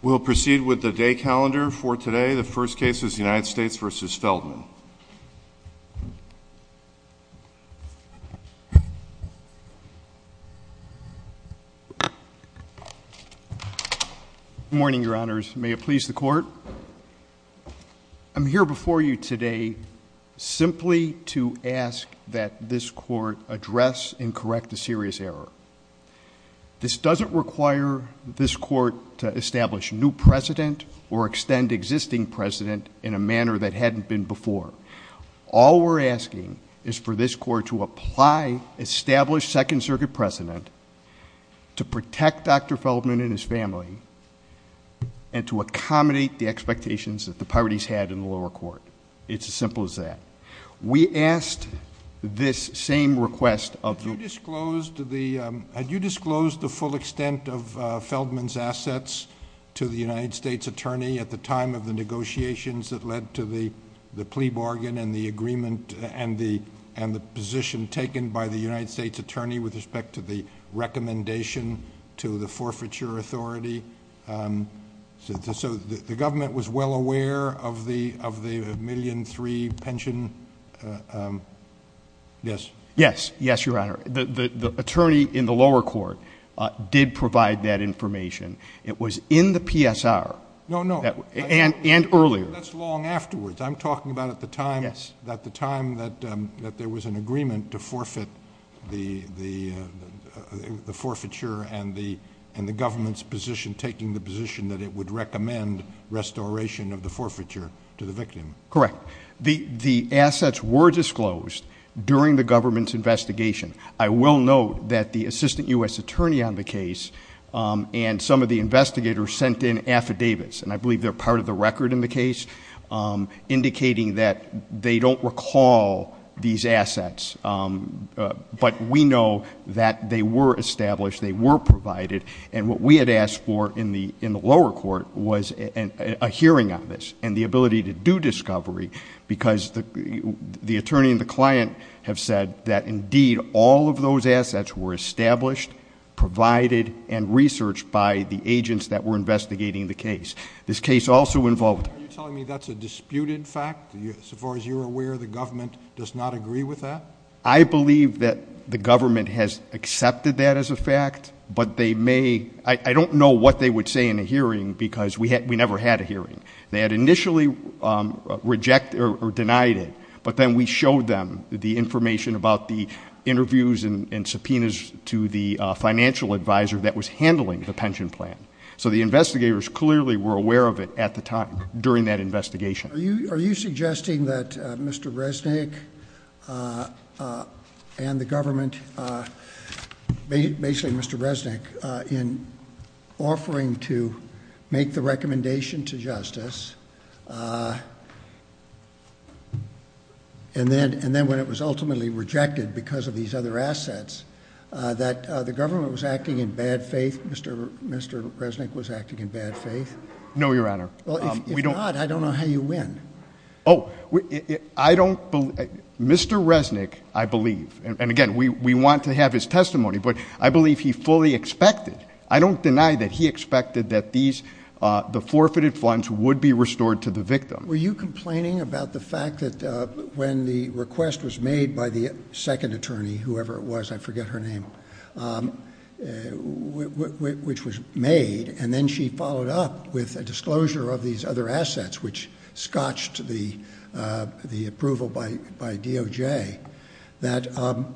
We'll proceed with the day calendar for today. The first case is the United States v. Feldman. Good morning, your honors. May it please the court. I'm here before you today simply to ask that this court address and correct a serious error. This doesn't require this court to establish new precedent or extend existing precedent in a manner that hadn't been before. All we're asking is for this court to apply established Second Circuit precedent to protect Dr. Feldman and his family and to accommodate the expectations that the parties had in the lower court. It's as simple as that. We asked this same request of... Had you disclosed the full extent of Feldman's assets to the United States attorney at the time of the negotiations that led to the the plea bargain and the agreement and the and the position taken by the United States attorney with respect to the recommendation to the forfeiture authority? So the government was well aware of the of the million three pension... Yes. Yes, yes, your honor. The attorney in the lower court did provide that information. It was in the PSR. No, no. And earlier. That's long afterwards. I'm talking about at the time... Yes. At the time that there was an agreement to forfeit the forfeiture and the government's position taking the position that it would recommend restoration of the forfeiture to the victim. Correct. The assets were disclosed during the government's investigation. I will note that the assistant U.S. attorney on the case and some of the investigators sent in affidavits and I believe they're part of the record in the case indicating that they don't recall these assets but we know that they were established. They were provided and what we had asked for in the lower court was a hearing on this and the ability to do discovery because the attorney and the client have said that indeed all of those assets were established, provided and researched by the agents that were investigating the case. This case also involved... Are you telling me that's a disputed fact as far as you're aware the government does not agree with that? I believe that the government has accepted that as a fact but they may... I don't know what they would say in a hearing because we never had a hearing. They had initially rejected or denied it but then we showed them the information about the interviews and subpoenas to the financial advisor that was handling the pension plan. So the investigators clearly were aware of it at the time during that investigation. Are you suggesting that Mr. Resnick and the government were offering to make the recommendation to justice and then when it was ultimately rejected because of these other assets that the government was acting in bad faith? Mr. Resnick was acting in bad faith? No, Your Honor. If not, I don't know how you win. Oh, I don't believe... Mr. Resnick, I believe and again we want to have his testimony but I believe he fully expected. I don't deny that he expected that the forfeited funds would be restored to the victim. Were you complaining about the fact that when the request was made by the second attorney, whoever it was, I forget her name, which was made and then she followed up with a disclosure of these other assets which scotched the approval by DOJ, that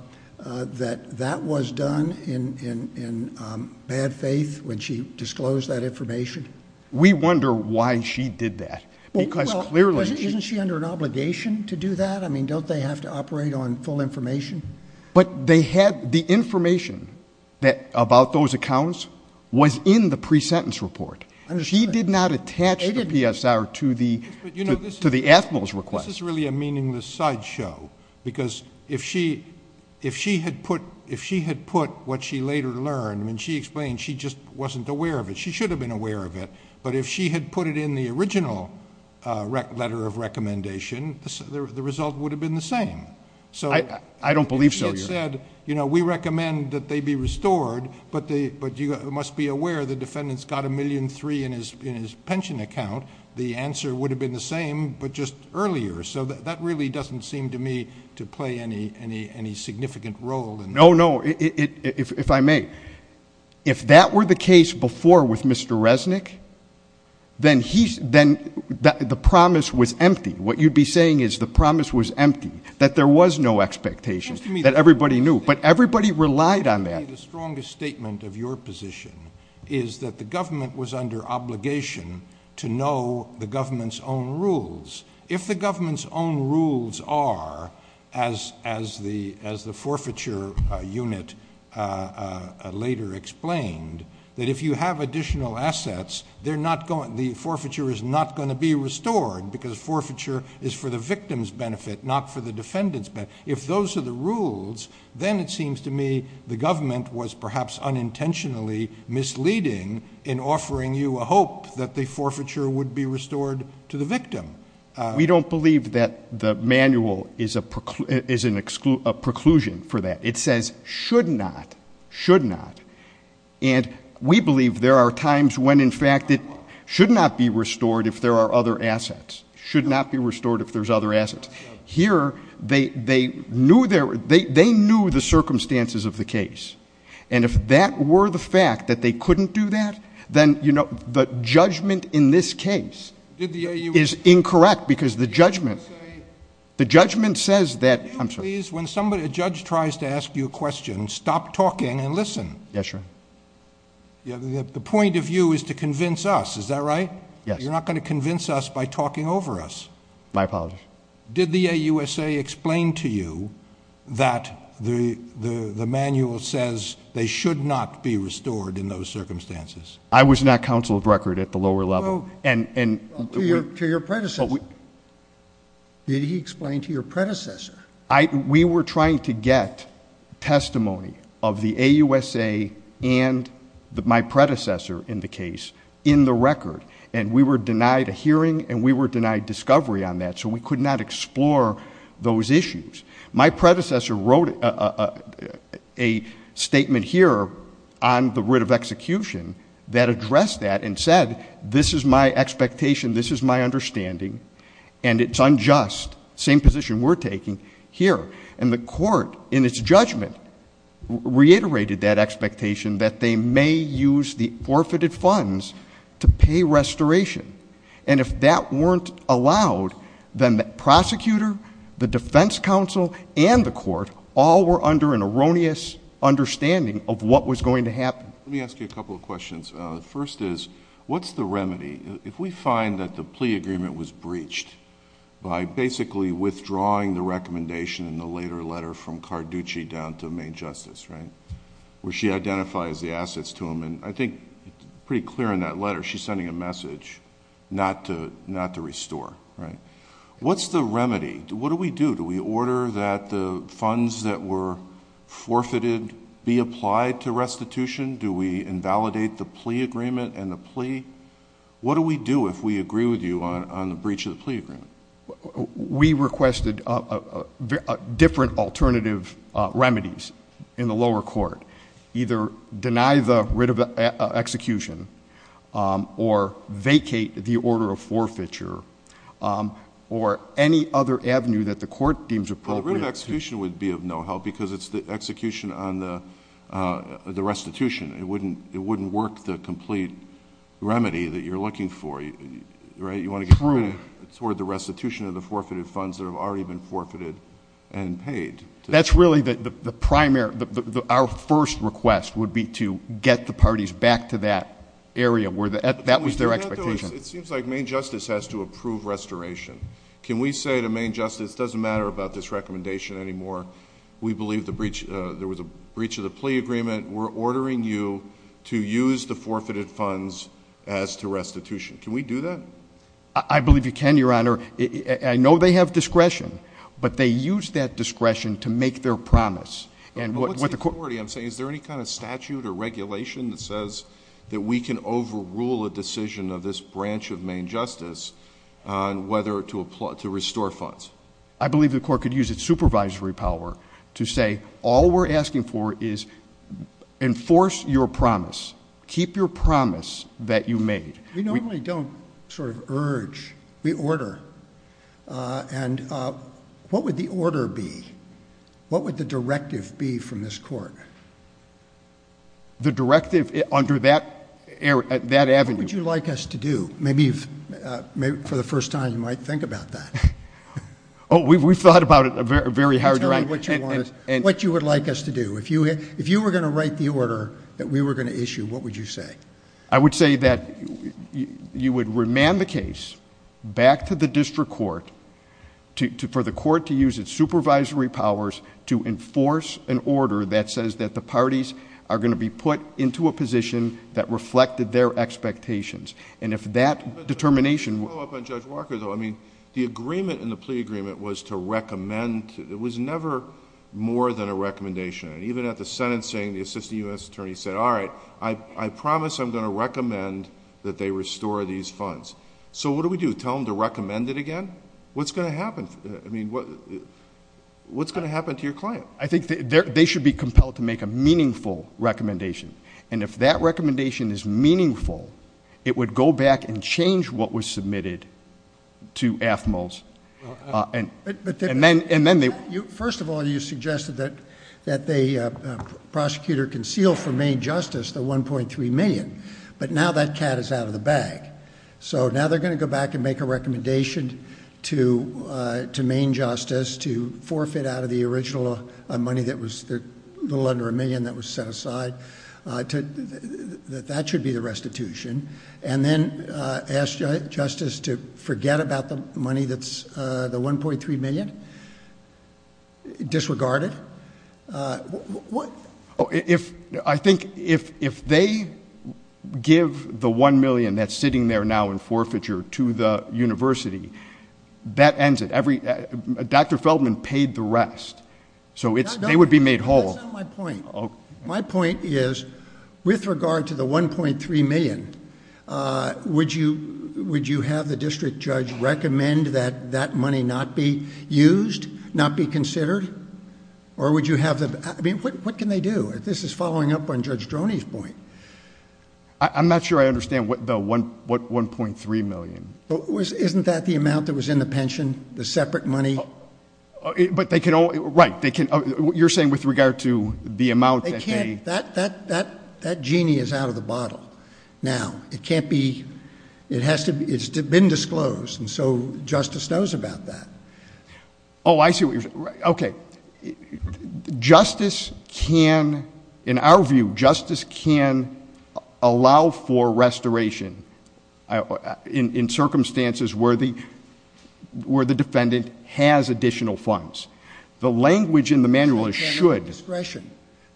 that was done in bad faith when she disclosed that information? We wonder why she did that because clearly... Isn't she under an obligation to do that? I mean, don't they have to operate on full information? But they had... the information about those accounts was in the pre-sentence report. She did not attach the PSR to the... Yes, but you know, this is... to the point is, if she had put what she later learned, I mean, she explained she just wasn't aware of it. She should have been aware of it, but if she had put it in the original letter of recommendation, the result would have been the same. I don't believe so, Your Honor. It said, you know, we recommend that they be restored, but you must be aware the defendant's got a million three in his pension account. The answer would have been the same, but just earlier. So that really doesn't seem to me to play any significant role in... No, no. If I may, if that were the case before with Mr. Resnick, then he... then the promise was empty. What you'd be saying is the promise was empty, that there was no expectation, that everybody knew, but everybody relied on that. To me, the strongest statement of your position is that the government was under obligation to know the government's own rules. If the government's own rules are, as the forfeiture unit later explained, that if you have additional assets, the forfeiture is not going to be restored because forfeiture is for the victim's benefit, not for the defendant's benefit. If those are the rules, then it seems to me the government was perhaps unintentionally misleading in offering you a hope that the forfeiture would be restored to the victim. We don't believe that the manual is a preclusion for that. It says, should not, should not, and we believe there are times when, in fact, it should not be restored if there are other assets, should not be restored if there's other assets. Here, they knew the circumstances of the case. If that were the fact that they couldn't do that, then the judgment in this case is incorrect because the judgment says that... Can you please, when a judge tries to ask you a question, stop talking and listen? Yes, Your Honor. The point of view is to convince us, is that right? Yes. You're not going to convince us by talking over us. My apologies. Did the AUSA explain to you that the manual says they should not be restored in those circumstances? I was not counsel of record at the lower level. To your predecessor. Did he explain to your predecessor? We were trying to get testimony of the AUSA and my predecessor in the case in the record, and we were denied a hearing and we were denied discovery on that, so we could not explore those issues. My predecessor wrote a statement here on the writ of execution that addressed that and said, this is my expectation, this is my understanding, and it's unjust, same position we're taking here. The court, in its judgment, reiterated that expectation that they may use the forfeited funds to pay restoration. If that weren't allowed, then the prosecutor, the defense counsel, and the court, all were under an erroneous understanding of what was going to happen. Let me ask you a couple of questions. First is, what's the remedy? If we find that the plea agreement was breached by basically withdrawing the recommendation in the later letter from Carducci down to Maine Justice, right, where she identifies the assets to him, and I think pretty clear in that letter, she's sending a message not to restore, right? What's the remedy? What do we do? Do we order that the funds that were forfeited be applied to restitution? Do we invalidate the plea agreement and the plea? What do we do if we agree with you on the breach of the plea agreement? We requested different alternative remedies in the lower court. Either deny the writ of execution, or vacate the order of forfeiture, or any other avenue that the court deems appropriate... The writ of execution would be of no help because it's the execution on the restitution. It wouldn't work the complete remedy that you're looking for, right? You want to get...... toward the restitution of the forfeited funds that have already been forfeited and paid. That's really the primary... Our first request would be to get the parties back to that area where that was their expectation. It seems like Maine Justice has to approve restoration. Can we say to Maine Justice, it doesn't matter about this recommendation anymore. We believe there was a breach of the plea agreement. We're ordering you to use the forfeited funds as to restitution. Can we do that? I believe you can, Your Honor. I know they have discretion, but they use that discretion to make their promise. What's the authority? I'm saying, is there any kind of statute or regulation that says that we can overrule a decision of this branch of Maine Justice on whether to restore funds? I believe the court could use its supervisory power to say, all we're asking for is enforce your promise. Keep your promise that you made. We normally don't urge. We order. What would the order be? What would the directive be from this court? The directive under that avenue. What would you like us to do? Maybe for the first time, you might think about that. Oh, we've thought about it a very hard time. What you would like us to do? If you were going to write the order that we were going to issue, what would you say? I would say that you would remand the case back to the district court for the court to use its supervisory powers to enforce an order that says that the parties are going to be put into a position that reflected their expectations. If that determination... Let me follow up on Judge Walker though. The agreement in the plea agreement was to recommend. It was never more than a recommendation. Even at the sentencing, the assistant U.S. attorney said, all right, I promise I'm going to recommend that they restore these funds. So what do we do? Tell them to recommend it again? What's going to happen? I mean, what's going to happen to your client? I think they should be compelled to make a meaningful recommendation. If that recommendation is meaningful, it would go back and change what was submitted to Athmos and then they... First of all, you suggested that the prosecutor conceal from Maine Justice the $1.3 million, but now that cat is out of the bag. So now they're going to go back and make a recommendation to Maine Justice to forfeit out of the original money that was a little under a million that was set aside, that that should be the restitution, and then ask Justice to forget about the money that's the $1.3 million disregarded? What... Oh, I think if they give the $1 million that's sitting there now in forfeiture to the university, that ends it. Dr. Feldman paid the rest. So they would be made whole. That's not my point. My point is, with regard to the $1.3 million, would you have the district judge recommend that that money not be used, not be considered, or would you have... I mean, what can they do? This is following up on Judge Droney's point. I'm not sure I understand what $1.3 million. Isn't that the amount that was in the pension, the separate money? But they can... Right. You're saying with regard to the amount that they... That genie is out of the bottle now. It can't be... It has to... It's been disclosed, and so Justice knows about that. Oh, I see what you're... Okay. Justice can... In our view, Justice can allow for restoration in circumstances where the defendant has additional funds. The language in the manual is should... They have discretion.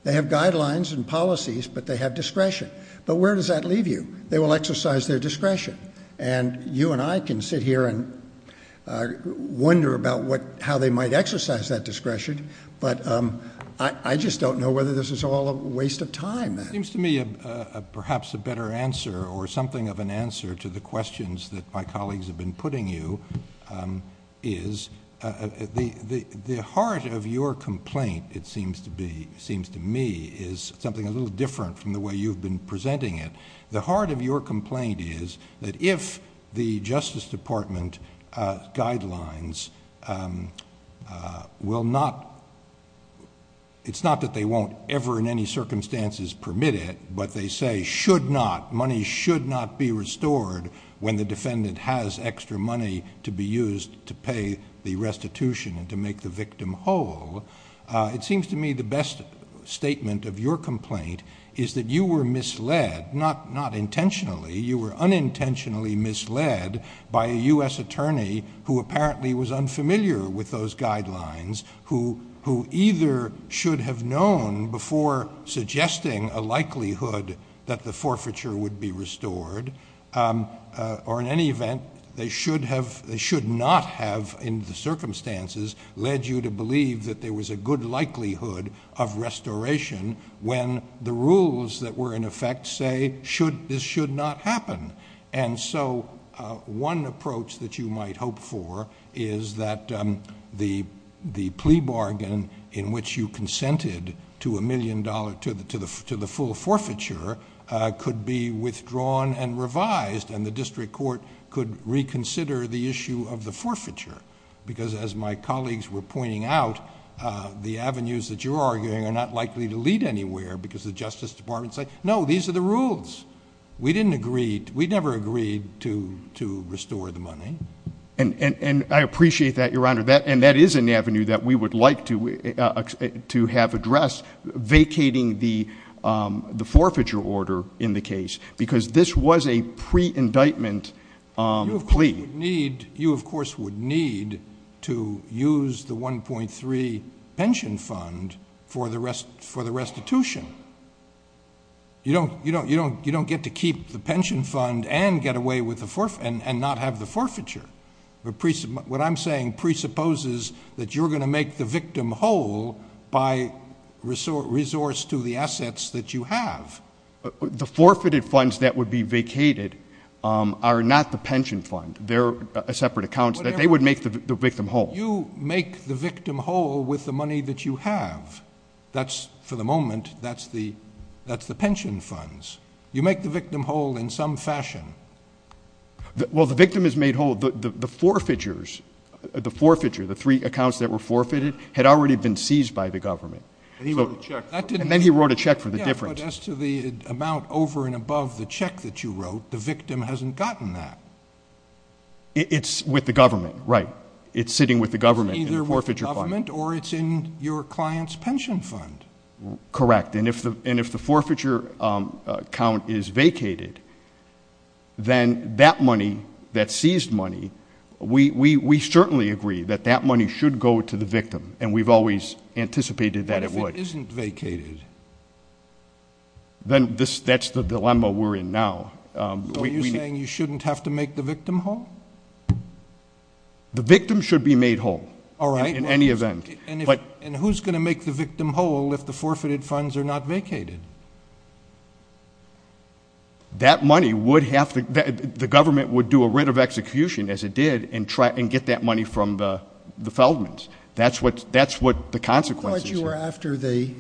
They have guidelines and policies, but they have discretion. But where does that leave you? They will exercise their discretion, and you and I can sit here and wonder about how they might exercise that discretion, but I just don't know whether this is all a waste of time. It seems to me perhaps a better answer or something of an answer to the questions that my colleagues have been putting you is the heart of your complaint, it seems to me, is something a little different from the way you've been presenting it. The heart of your complaint is that if the Justice Department guidelines will not... It's not that they won't ever in any circumstances permit it, but they say should not... Money should not be restored when the defendant has extra money to be used to pay the restitution and to make the victim whole. It seems to me the best statement of your complaint is that you were misled, not intentionally. You were unintentionally misled by a U.S. attorney who apparently was unfamiliar with those guidelines, who either should have known before suggesting a likelihood that the forfeiture would be restored, or in any event, they should not have in the circumstances led you to believe that there was a good likelihood of restoration when the rules that were in effect say this should not happen. One approach that you might hope for is that the plea bargain in which you consented to the full forfeiture could be withdrawn and revised, and the district court could reconsider the issue of the forfeiture, because as my colleagues were pointing out, the avenues that you're arguing are not likely to lead anywhere because the Justice Department said no, these are the rules. We didn't agree... we never agreed to restore the money. And I appreciate that, Your Honor, and that is an avenue that we would like to have addressed, vacating the forfeiture order in the case, because this was a pre-indictment plea. You, of course, would need to use the 1.3 pension fund for the restitution. You don't get to keep the pension fund and not have the forfeiture. What I'm saying presupposes that you're going to make the victim whole by resource to the assets that you have. The forfeited funds that would be vacated are not the pension fund. They're separate accounts that they would make the victim whole. You make the victim whole with the money that you have. That's, for the moment, that's the pension funds. You make the victim whole in some fashion. Well, the victim is made whole. The forfeiture, the three accounts that were forfeited, had already been seized by the government. And then he wrote a check for the difference. But as to the amount over and above the check that you wrote, the victim hasn't gotten that. It's with the government, right. It's sitting with the government in the forfeiture fund. Either with the government or it's in your client's pension fund. Correct. And if the forfeiture account is vacated, then that money, that seized money, we certainly agree that that money should go to the victim. And we've always anticipated that it would. But if it isn't vacated, then that's the dilemma we're in now. So you're saying you shouldn't have to make the victim whole? The victim should be made whole. All right. In any event. And who's going to make the victim whole if the forfeited funds are not vacated? That money would have to... The government would do a writ of execution, as it did, and get that money from the Feldmans. That's what the consequences are. I thought you were after the...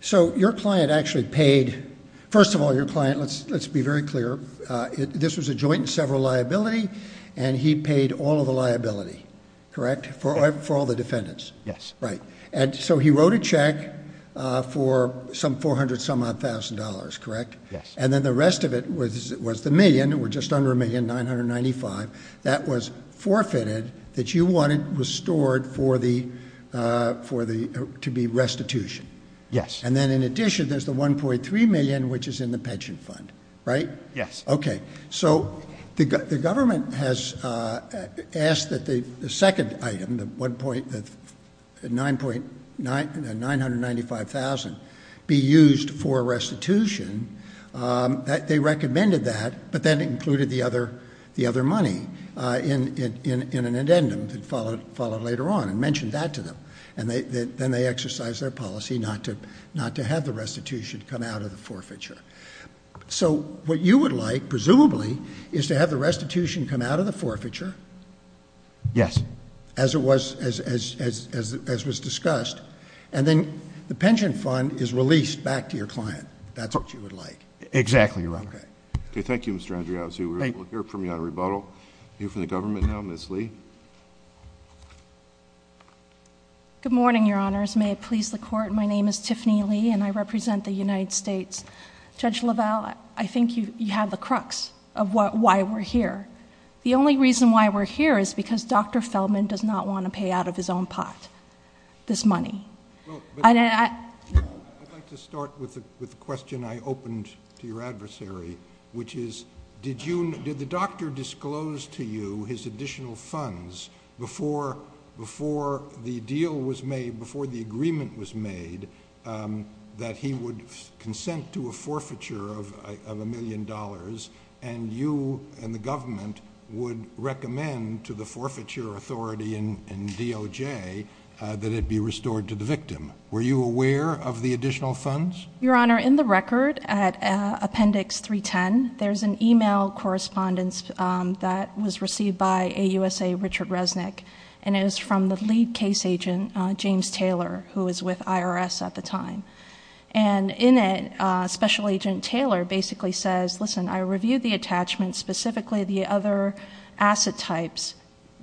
So your client actually paid... First of all, your client, let's be very clear, this was a joint and several liability, and he paid all of the liability, correct, for all the defendants? Yes. Right. And so he wrote a check for some $400,000, correct? And then the rest of it was the million, or just under a million, $995,000, that was forfeited, that you wanted restored for the... to be restitution. Yes. And then in addition, there's the $1.3 million, which is in the pension fund, right? Yes. Okay. So the government has asked that the second item, the $995,000, be used for restitution. They recommended that, but then included the other money in an addendum that followed later on and mentioned that to them. And then they exercised their policy not to have the restitution come out of the forfeiture. So what you would like, presumably, is to have the restitution come out of the forfeiture... Yes. ...as was discussed, and then the pension fund is released back to your client. That's what you would like. Exactly, Your Honor. Okay, thank you, Mr. Andriaus. Thank you. We'll hear from you on rebuttal. We'll hear from the government now. Ms. Lee. Good morning, Your Honors. May it please the Court, my name is Tiffany Lee, and I represent the United States. Judge LaValle, I think you have the crux of why we're here. The only reason why we're here is because Dr. Feldman does not want to pay out of his own pot this money. Well, but... I'd like to start with the question I opened to your adversary, which is, did you... did the doctor disclose to you his additional funds before the deal was made, before the agreement was made, that he would consent to a forfeiture of a million dollars, and you and the government would recommend to the forfeiture authority and DOJ that it be restored to the victim. Were you aware of the additional funds? Your Honor, in the record at Appendix 310, there's an email correspondence that was received by AUSA Richard Resnick, and it was from the lead case agent, James Taylor, who was with IRS at the time. And in it, Special Agent Taylor basically says, listen, I reviewed the attachments, specifically the other asset types,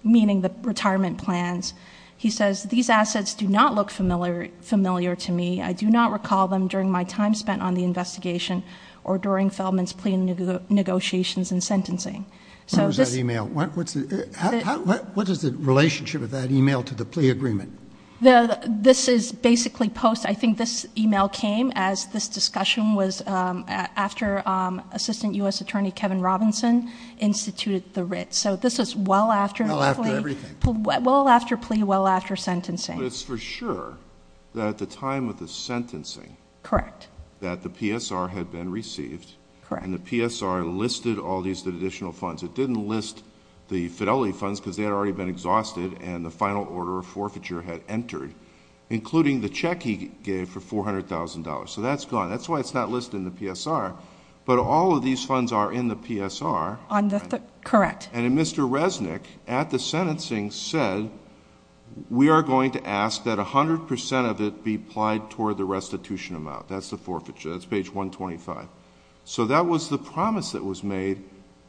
meaning the retirement plans. He says, these assets do not look familiar to me. I do not recall them during my time spent on the investigation or during Feldman's plea negotiations and sentencing. What is the relationship of that email to the plea agreement? This is basically post... I think this email came as this discussion was after Assistant U.S. Attorney Kevin Robinson instituted the writ. So this is well after the plea. Well after plea, well after sentencing. But it's for sure that at the time of the sentencing that the PSR had been received, and the PSR listed all these additional funds. It didn't list the fidelity funds because they had already been exhausted, and the final order of forfeiture had entered, including the check he gave for $400,000. So that's gone. That's why it's not listed in the PSR. But all of these funds are in the PSR. And Mr. Resnick, at the sentencing, said we are going to ask that a hundred percent of it be applied toward the restitution amount. That's the forfeiture. That's page 125. So that was the promise that was made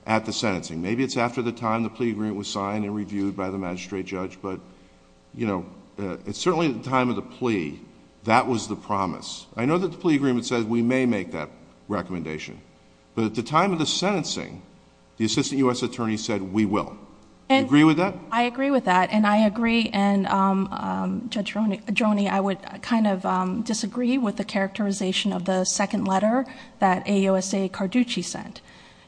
at the sentencing. Maybe it's after the time the plea agreement was signed and reviewed by the magistrate judge, but it's certainly at the time of the plea that was the promise. I know that the plea agreement says we may make that recommendation. But at the time of the sentencing, the assistant U.S. attorney said we will. Do you agree with that? I agree with that, and I agree, and Judge Joni, I would kind of disagree with the characterization of the second letter that AUSA Carducci sent.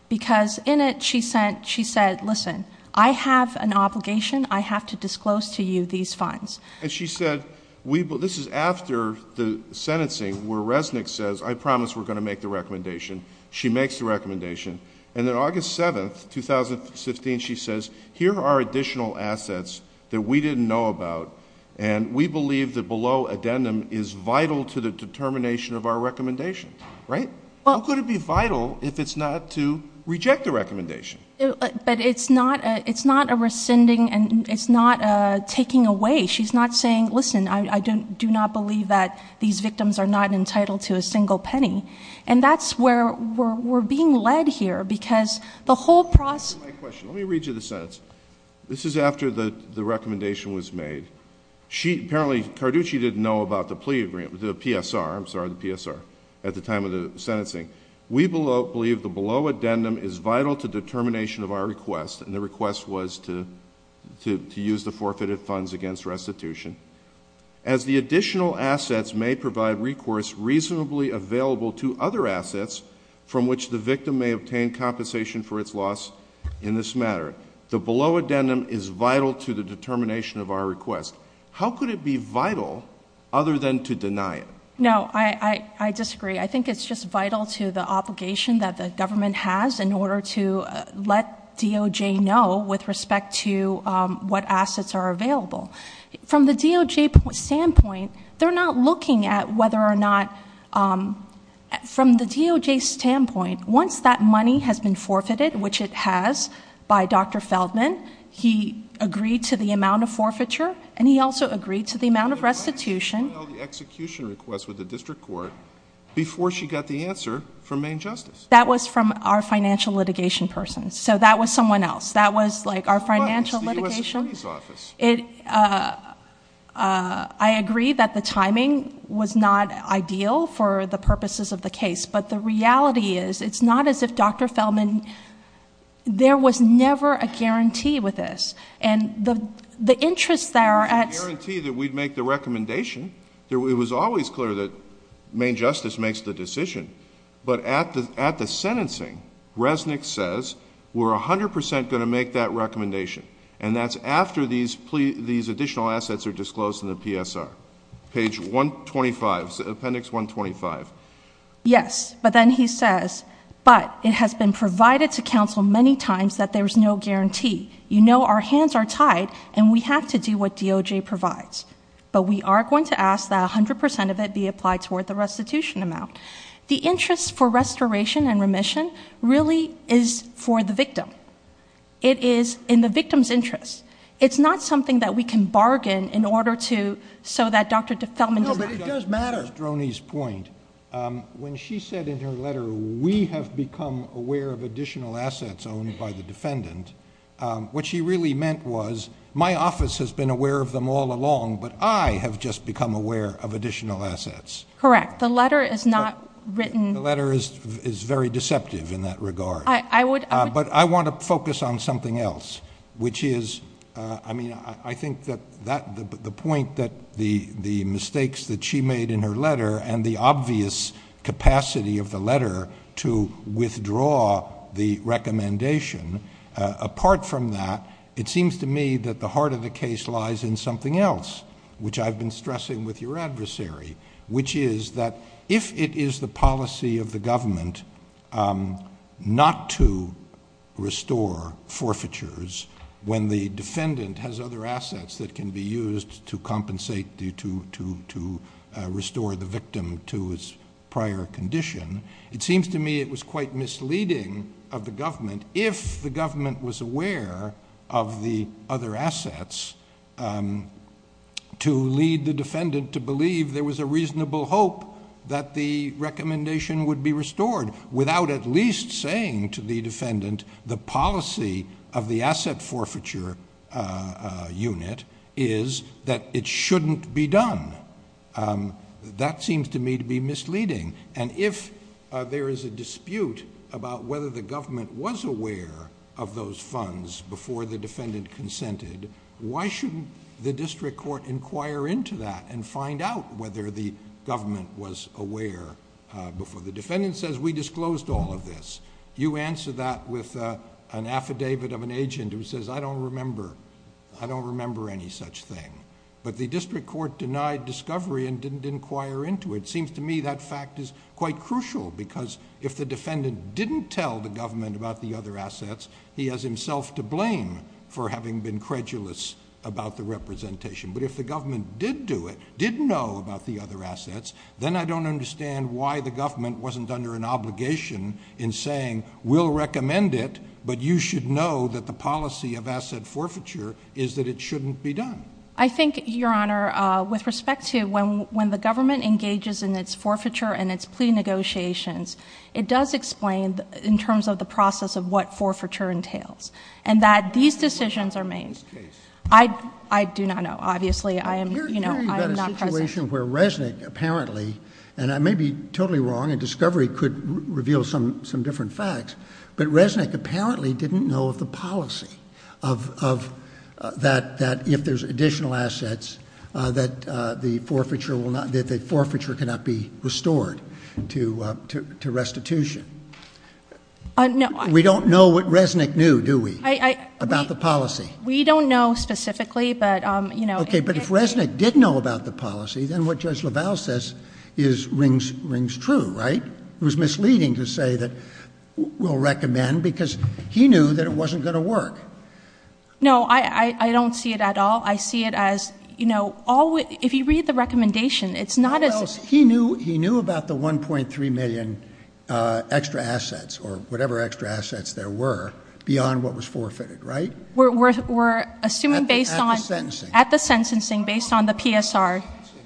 Because in it, she said, listen, I have an obligation. I have to disclose to you these funds. And she said, this is after the sentencing where Resnick says, I promise we're going to make the recommendation. She makes the recommendation. And then August 7, 2015, she says, here are additional assets that we didn't know about and we believe that below addendum is vital to the determination of our recommendation. How could it be vital if it's not to reject the recommendation? But it's not a rescinding, it's not taking away. She's not saying, listen, I do not believe that these victims are not entitled to a single penny. And that's where we're being led here because the whole process Let me read you the sentence. This is after the recommendation was made. Apparently Carducci didn't know about the PSR at the time of the sentencing. We believe the below addendum is vital to the determination of our request, and the request was to use the as the additional assets may provide recourse reasonably available to other assets from which the victim may obtain compensation for its loss in this matter. The below addendum is vital to the determination of our request. How could it be vital other than to deny it? No, I disagree. I think it's just vital to the obligation that the government has in order to let DOJ know with respect to what assets are available. From the DOJ standpoint, they're not looking at whether or not from the DOJ standpoint, once that money has been forfeited, which it has by Dr. Feldman, he agreed to the amount of forfeiture and he also agreed to the amount of restitution Why didn't she file the execution request with the District Court before she got the answer from Maine Justice? That was from our financial litigation person so that was someone else. That was our financial litigation. I agree that the timing was not ideal for the purposes of the case, but the reality is, it's not as if Dr. Feldman there was never a guarantee with this and the interest there was a guarantee that we'd make the recommendation it was always clear that Maine Justice makes the decision but at the sentencing Resnick says we're 100% going to make that recommendation and that's after these additional assets are disclosed in the PSR Page 125, Appendix 125 Yes, but then he says, but it has been provided to counsel many times that there's no guarantee. You know our hands are tied and we have to do what DOJ provides, but we are going to ask that 100% of it be applied toward the restitution amount The interest for restoration and for the victim. It is in the victim's interest. It's not something that we can bargain in order to, so that Dr. Feldman No, but it does matter. Droney's point when she said in her letter we have become aware of additional assets owned by the defendant, what she really meant was, my office has been aware of them all along, but I have just become aware of additional assets Correct. The letter is not written The letter is very deceptive in that regard, but I want to focus on something else which is, I mean I think that the point that the mistakes that she made in her letter and the obvious capacity of the letter to withdraw the recommendation, apart from that, it seems to me that the heart of the case lies in something else, which I've been stressing with your adversary, which is that if it is the policy of the government not to restore forfeitures when the defendant has other assets that can be used to compensate to restore the victim to his prior condition, it seems to me it was quite misleading of the government if the government was aware of the other assets to lead the defendant to believe there was a reasonable hope that the recommendation would be restored without at least saying to the defendant the policy of the asset forfeiture unit is that it shouldn't be done That seems to me to be misleading and if there is a dispute about whether the government was aware of those funds before the defendant consented why shouldn't the district court inquire into that and find out whether the government was aware before the defendant says we disclosed all of this you answer that with an affidavit of an agent who says I don't remember any such thing, but the district court denied discovery and didn't inquire into it. It seems to me that fact is quite crucial because if the defendant didn't tell the government about the other assets, he has himself to blame for having been credulous about the representation but if the government did do it, did know about the other assets, then I don't understand why the government wasn't under an obligation in saying we'll recommend it, but you should know that the policy of asset forfeiture is that it shouldn't be done. I think, your honor with respect to when the government engages in its forfeiture and its plea negotiations, it does explain in terms of the process of what forfeiture entails and that these decisions are made I do not know obviously I am not present Here you've got a situation where Resnick apparently and I may be totally wrong and discovery could reveal some different facts, but Resnick apparently didn't know of the policy of that if there's additional assets that the forfeiture will not that the forfeiture cannot be restored to restitution We don't know what Resnick knew, do we? About the policy We don't know specifically But if Resnick did know about the policy then what Judge LaValle says rings true, right? It was misleading to say we'll recommend because he knew that it wasn't going to work No, I don't see it at all I see it as if you read the recommendation He knew about the 1.3 million extra assets or whatever extra was forfeited, right? At the sentencing Based on the PSR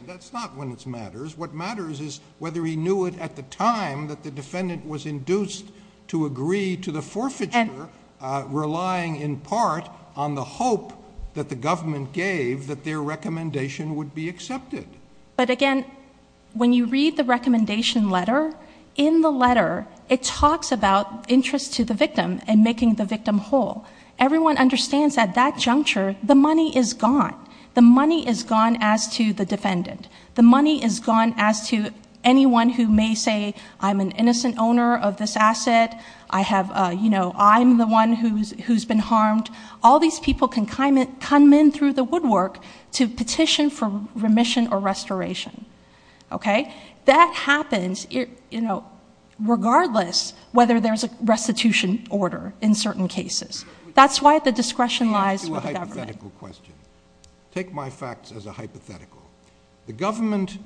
That's not when it matters What matters is whether he knew it at the time that the defendant was induced to agree to the forfeiture relying in part on the hope that the government gave that their recommendation would be accepted But again, when you read the recommendation letter, in the letter it talks about interest to the Everyone understands at that juncture the money is gone The money is gone as to the defendant The money is gone as to anyone who may say I'm an innocent owner of this asset I'm the one who's been harmed All these people can come in through the woodwork to petition for remission or restoration That happens regardless whether there's a restitution order in certain cases That's why the discretion lies with the government Take my facts as a hypothetical The government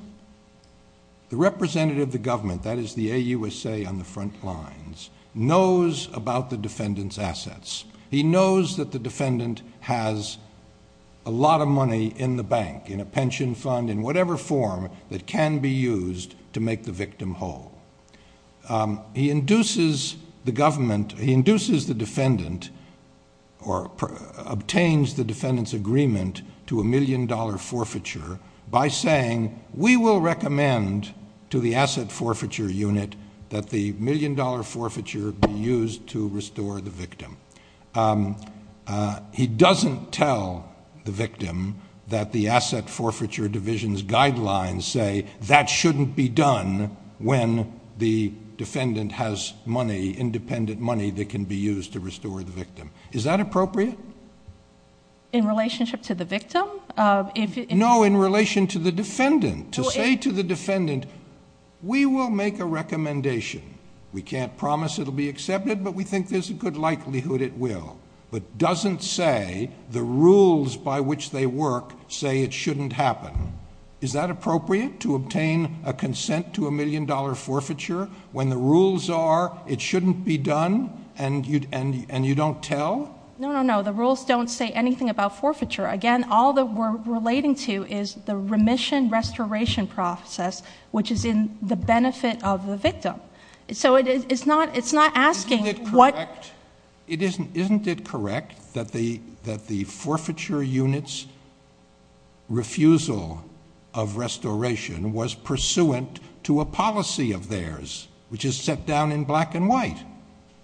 the representative of the government that is the AUSA on the front lines knows about the defendant's assets. He knows that the defendant has a lot of money in the bank in a pension fund, in whatever form that can be used to make the victim whole He induces the government the defendant obtains the defendant's agreement to a million dollar forfeiture by saying we will recommend to the asset forfeiture unit that the million dollar forfeiture be used to restore the victim He doesn't tell the victim that the asset forfeiture division's guidelines say that shouldn't be done when the defendant has money, independent money that can be used to restore the victim Is that appropriate? In relationship to the victim? No, in relation to the defendant To say to the defendant we will make a recommendation We can't promise it will be accepted, but we think there's a good likelihood it will. But doesn't say the rules by which they work say it shouldn't happen Is that appropriate? To obtain a consent to a million dollar forfeiture when the rules are it shouldn't be done and you don't tell? No, the rules don't say anything about forfeiture. Again, all that we're relating to is the remission restoration process which is in the benefit of the victim So it's not asking Isn't it correct that the forfeiture unit's refusal of restoration was pursuant to a policy of theirs which is set down in black and white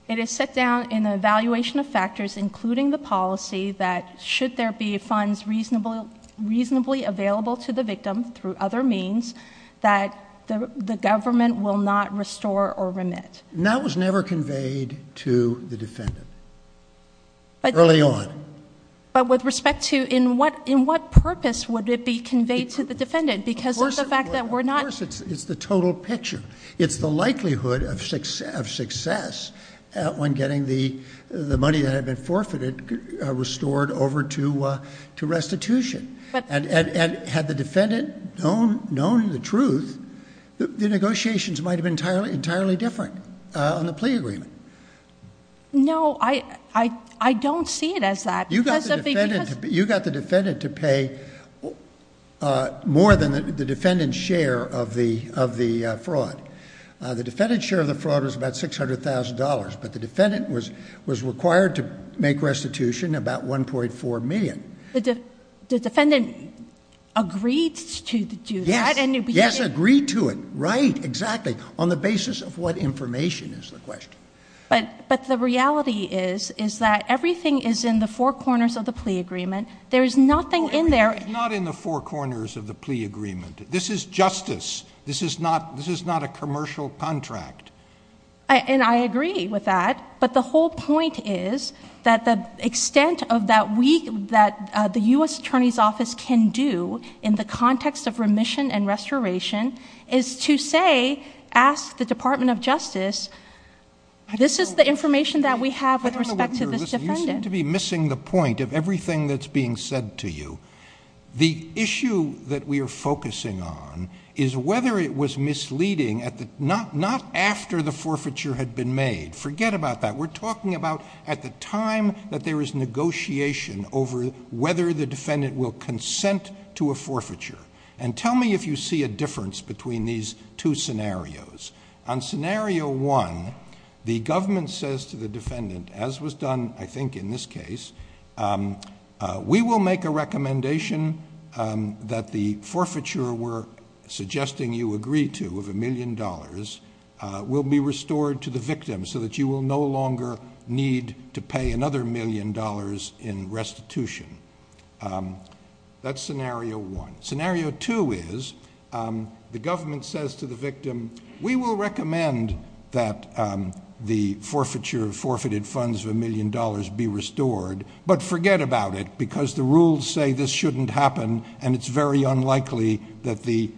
It is set down in the evaluation of factors including the policy that should there be funds reasonably available to the victim through other means that the government will not restore or remit That was never conveyed to the defendant early on But with respect to in what purpose would it be conveyed to the defendant Of course it's the total picture It's the likelihood of success when getting the money that had been forfeited restored over to restitution And had the defendant known the truth the negotiations might have been entirely different on the plea agreement No I don't see it as that You got the defendant to pay more than the defendant's share of the fraud The defendant's share of the fraud was about $600,000 but the defendant was required to make restitution about $1.4 million The defendant agreed to do that Yes agreed to it, right, exactly on the basis of what information is the question But the reality is is that everything is in the four corners of the plea agreement There is nothing in there It's not in the four corners of the plea agreement This is justice This is not a commercial contract And I agree with that But the whole point is that the extent of that that the U.S. Attorney's Office can do in the context of remission and restoration is to say ask the Department of Justice this is the information that we have with respect to this defendant You seem to be missing the point of everything that's being said to you The issue that we are focusing on is whether it was misleading not after the forfeiture had been made forget about that, we're talking about at the time that there is negotiation over whether the defendant will consent to a forfeiture And tell me if you see a difference between these two scenarios On scenario one the government says to the defendant as was done, I think, in this case we will make a recommendation that the forfeiture we're suggesting you agree to of a million dollars will be restored to the victim so that you will no longer need to pay another million dollars in restitution That's scenario one Scenario two is the government says to the victim we will recommend that the forfeiture forfeited funds of a million dollars be restored, but forget about it because the rules say this shouldn't happen and it's very unlikely that the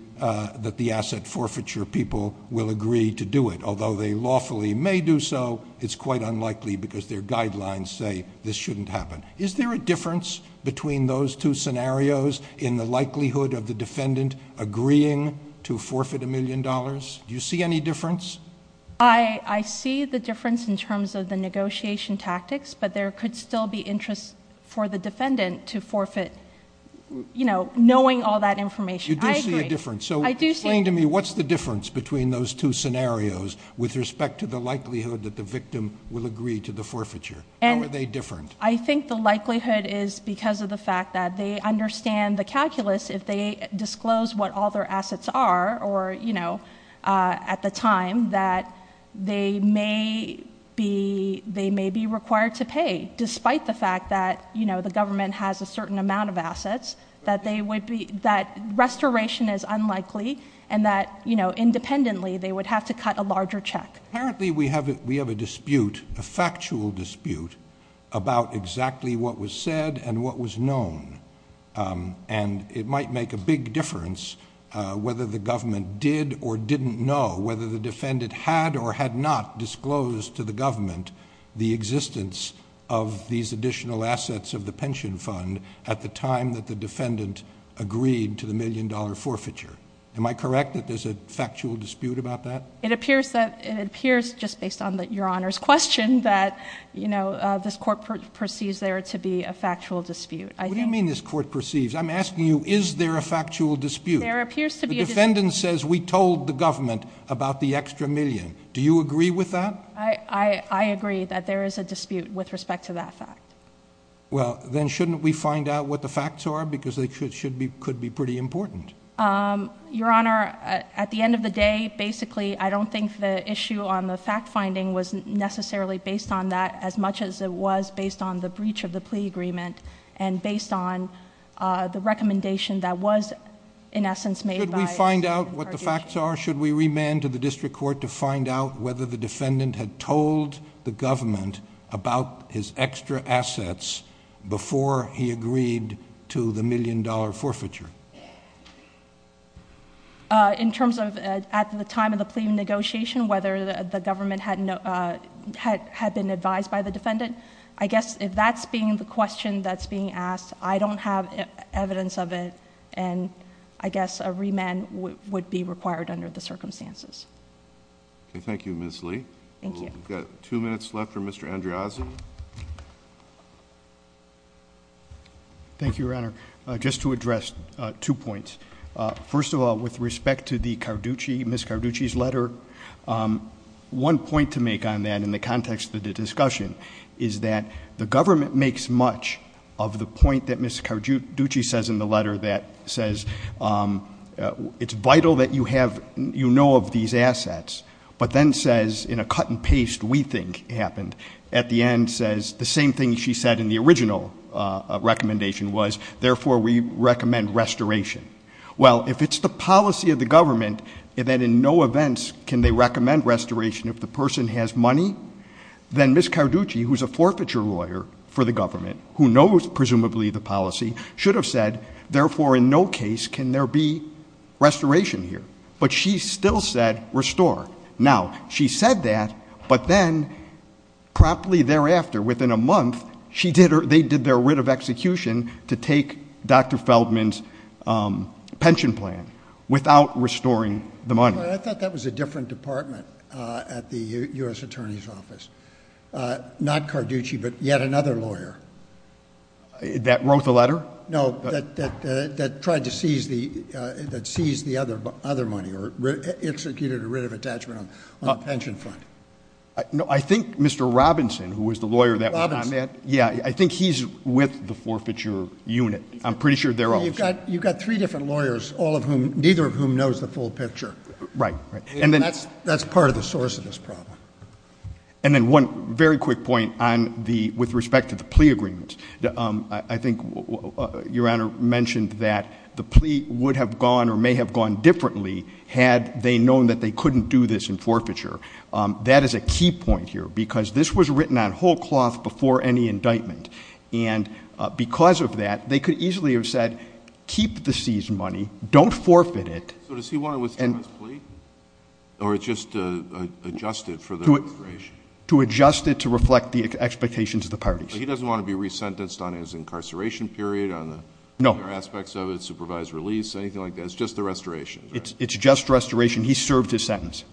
asset forfeiture people will agree to do it although they lawfully may do so it's quite unlikely because their guidelines say this shouldn't happen Is there a difference between those two scenarios in the likelihood of the defendant agreeing to forfeit a million dollars? Do you see any difference? I see the difference in terms of the negotiation tactics, but there could still be interest for the defendant to forfeit knowing all that information You do see a difference, so explain to me what's the difference between those two scenarios with respect to the likelihood that the victim will agree to the forfeiture How are they different? I think the likelihood is because of the fact that they understand the calculus if they disclose what all their assets are at the time that they may be required to pay, despite the fact that the government has a certain amount of assets, that restoration is unlikely and that independently they would have to cut a larger check We have a dispute a factual dispute about exactly what was said and what was known and it might make a big difference whether the government did or didn't know whether the defendant had or had not disclosed to the government the existence of these additional assets of the pension fund at the time that the defendant agreed to the million dollar forfeiture Am I correct that there's a factual dispute about that? It appears just based on your honor's question that this court perceives there to be a factual dispute What do you mean this court perceives? I'm asking you is there a factual dispute? The defendant says we told the government about the extra million Do you agree with that? I agree that there is a dispute with respect to that fact Then shouldn't we find out what the facts are because they could be pretty important Your honor Your honor at the end of the day basically I don't think the issue on the fact finding was necessarily based on that as much as it was based on the breach of the plea agreement and based on the recommendation that was in essence made by Should we remand to the district court to find out whether the defendant had told the government about his extra assets before he agreed to the million dollar forfeiture In terms of at the time of the plea negotiation whether the government had been advised by the defendant I guess if that's being the question that's being asked I don't have evidence of it and I guess a remand would be required under the circumstances Thank you Ms. Lee We've got two minutes left for Mr. Andreazzi Thank you your honor Just to address two points First of all with respect to the Carducci, Ms. Carducci's letter One point to make on that in the context of the discussion is that the government makes much of the point that Ms. Carducci says in the letter that says it's vital that you have you know of these assets but then says in a cut and paste we think happened at the end says the same thing she said in the original recommendation was therefore we recommend restoration well if it's the policy of the government that in no events can they recommend restoration if the person has money then Ms. Carducci who's a forfeiture lawyer for the government who knows presumably the policy should have said therefore in no case can there be restoration here but she still said restore now she said that but then promptly thereafter within a month they did their writ of execution to take Dr. Feldman's pension plan without restoring the money I thought that was a different department at the U.S. Attorney's Office not Carducci but yet another lawyer that wrote the letter? No that tried to seize that seized the other money or executed a writ of attachment on the pension fund I think Mr. Robinson who was the lawyer that I met I think he's with the forfeiture unit I'm pretty sure they're all you've got three different lawyers neither of whom knows the full picture that's part of the source of this problem and then one very quick point with respect to the plea agreement I think your honor mentioned that the plea would have gone or may have gone differently had they known that they couldn't do this in forfeiture that is a key point here because this was written on whole cloth before any indictment because of that they could easily have said keep the seized money don't forfeit it so does he want to withdraw his plea? or just adjust it to adjust it to reflect the expectations of the parties he doesn't want to be resentenced on his incarceration period supervised release just the restoration it's just restoration he served his sentence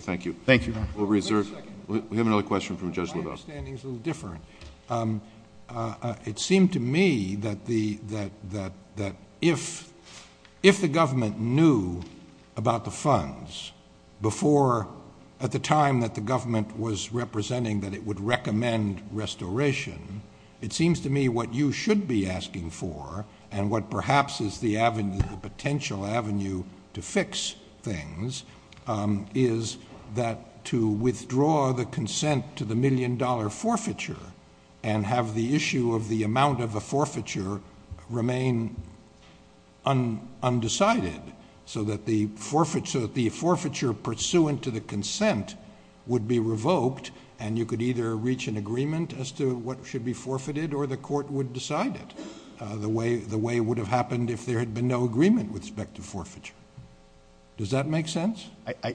thank you we have another question my understanding is a little different it seemed to me that if if the government knew about the funds before at the time that the government was representing that it would recommend restoration it seems to me what you should be asking for and what perhaps is the potential avenue to fix things is that to withdraw the consent to the million dollar forfeiture and have the issue of the amount of the forfeiture remain undecided so that the forfeiture pursuant to the consent would be revoked and you could either reach an agreement as to what should be forfeited or the court would decide it the way it would have happened if there had been no agreement with respect to forfeiture does that make sense I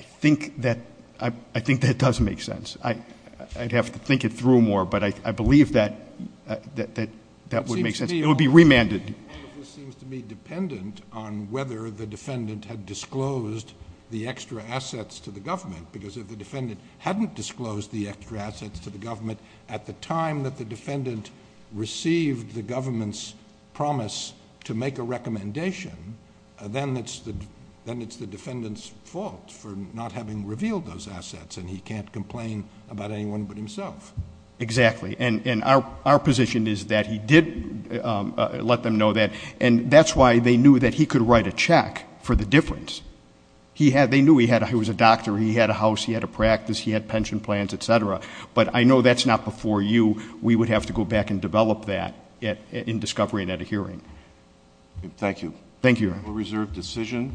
think that I think that does make sense I'd have to think it through more but I believe that that would make sense it would be remanded dependent on whether the defendant had disclosed the extra assets to the government because if the defendant hadn't disclosed the extra assets to the government at the time that the defendant received the government's promise to make a recommendation then it's the defendant's fault for not having revealed those assets and he can't complain about anyone but himself exactly and our position is that he did let them know that and that's why they knew that he could write a check for the difference he was a doctor, he had a house, he had a but I know that's not before you, we would have to go back and develop that in discovery and at a hearing thank you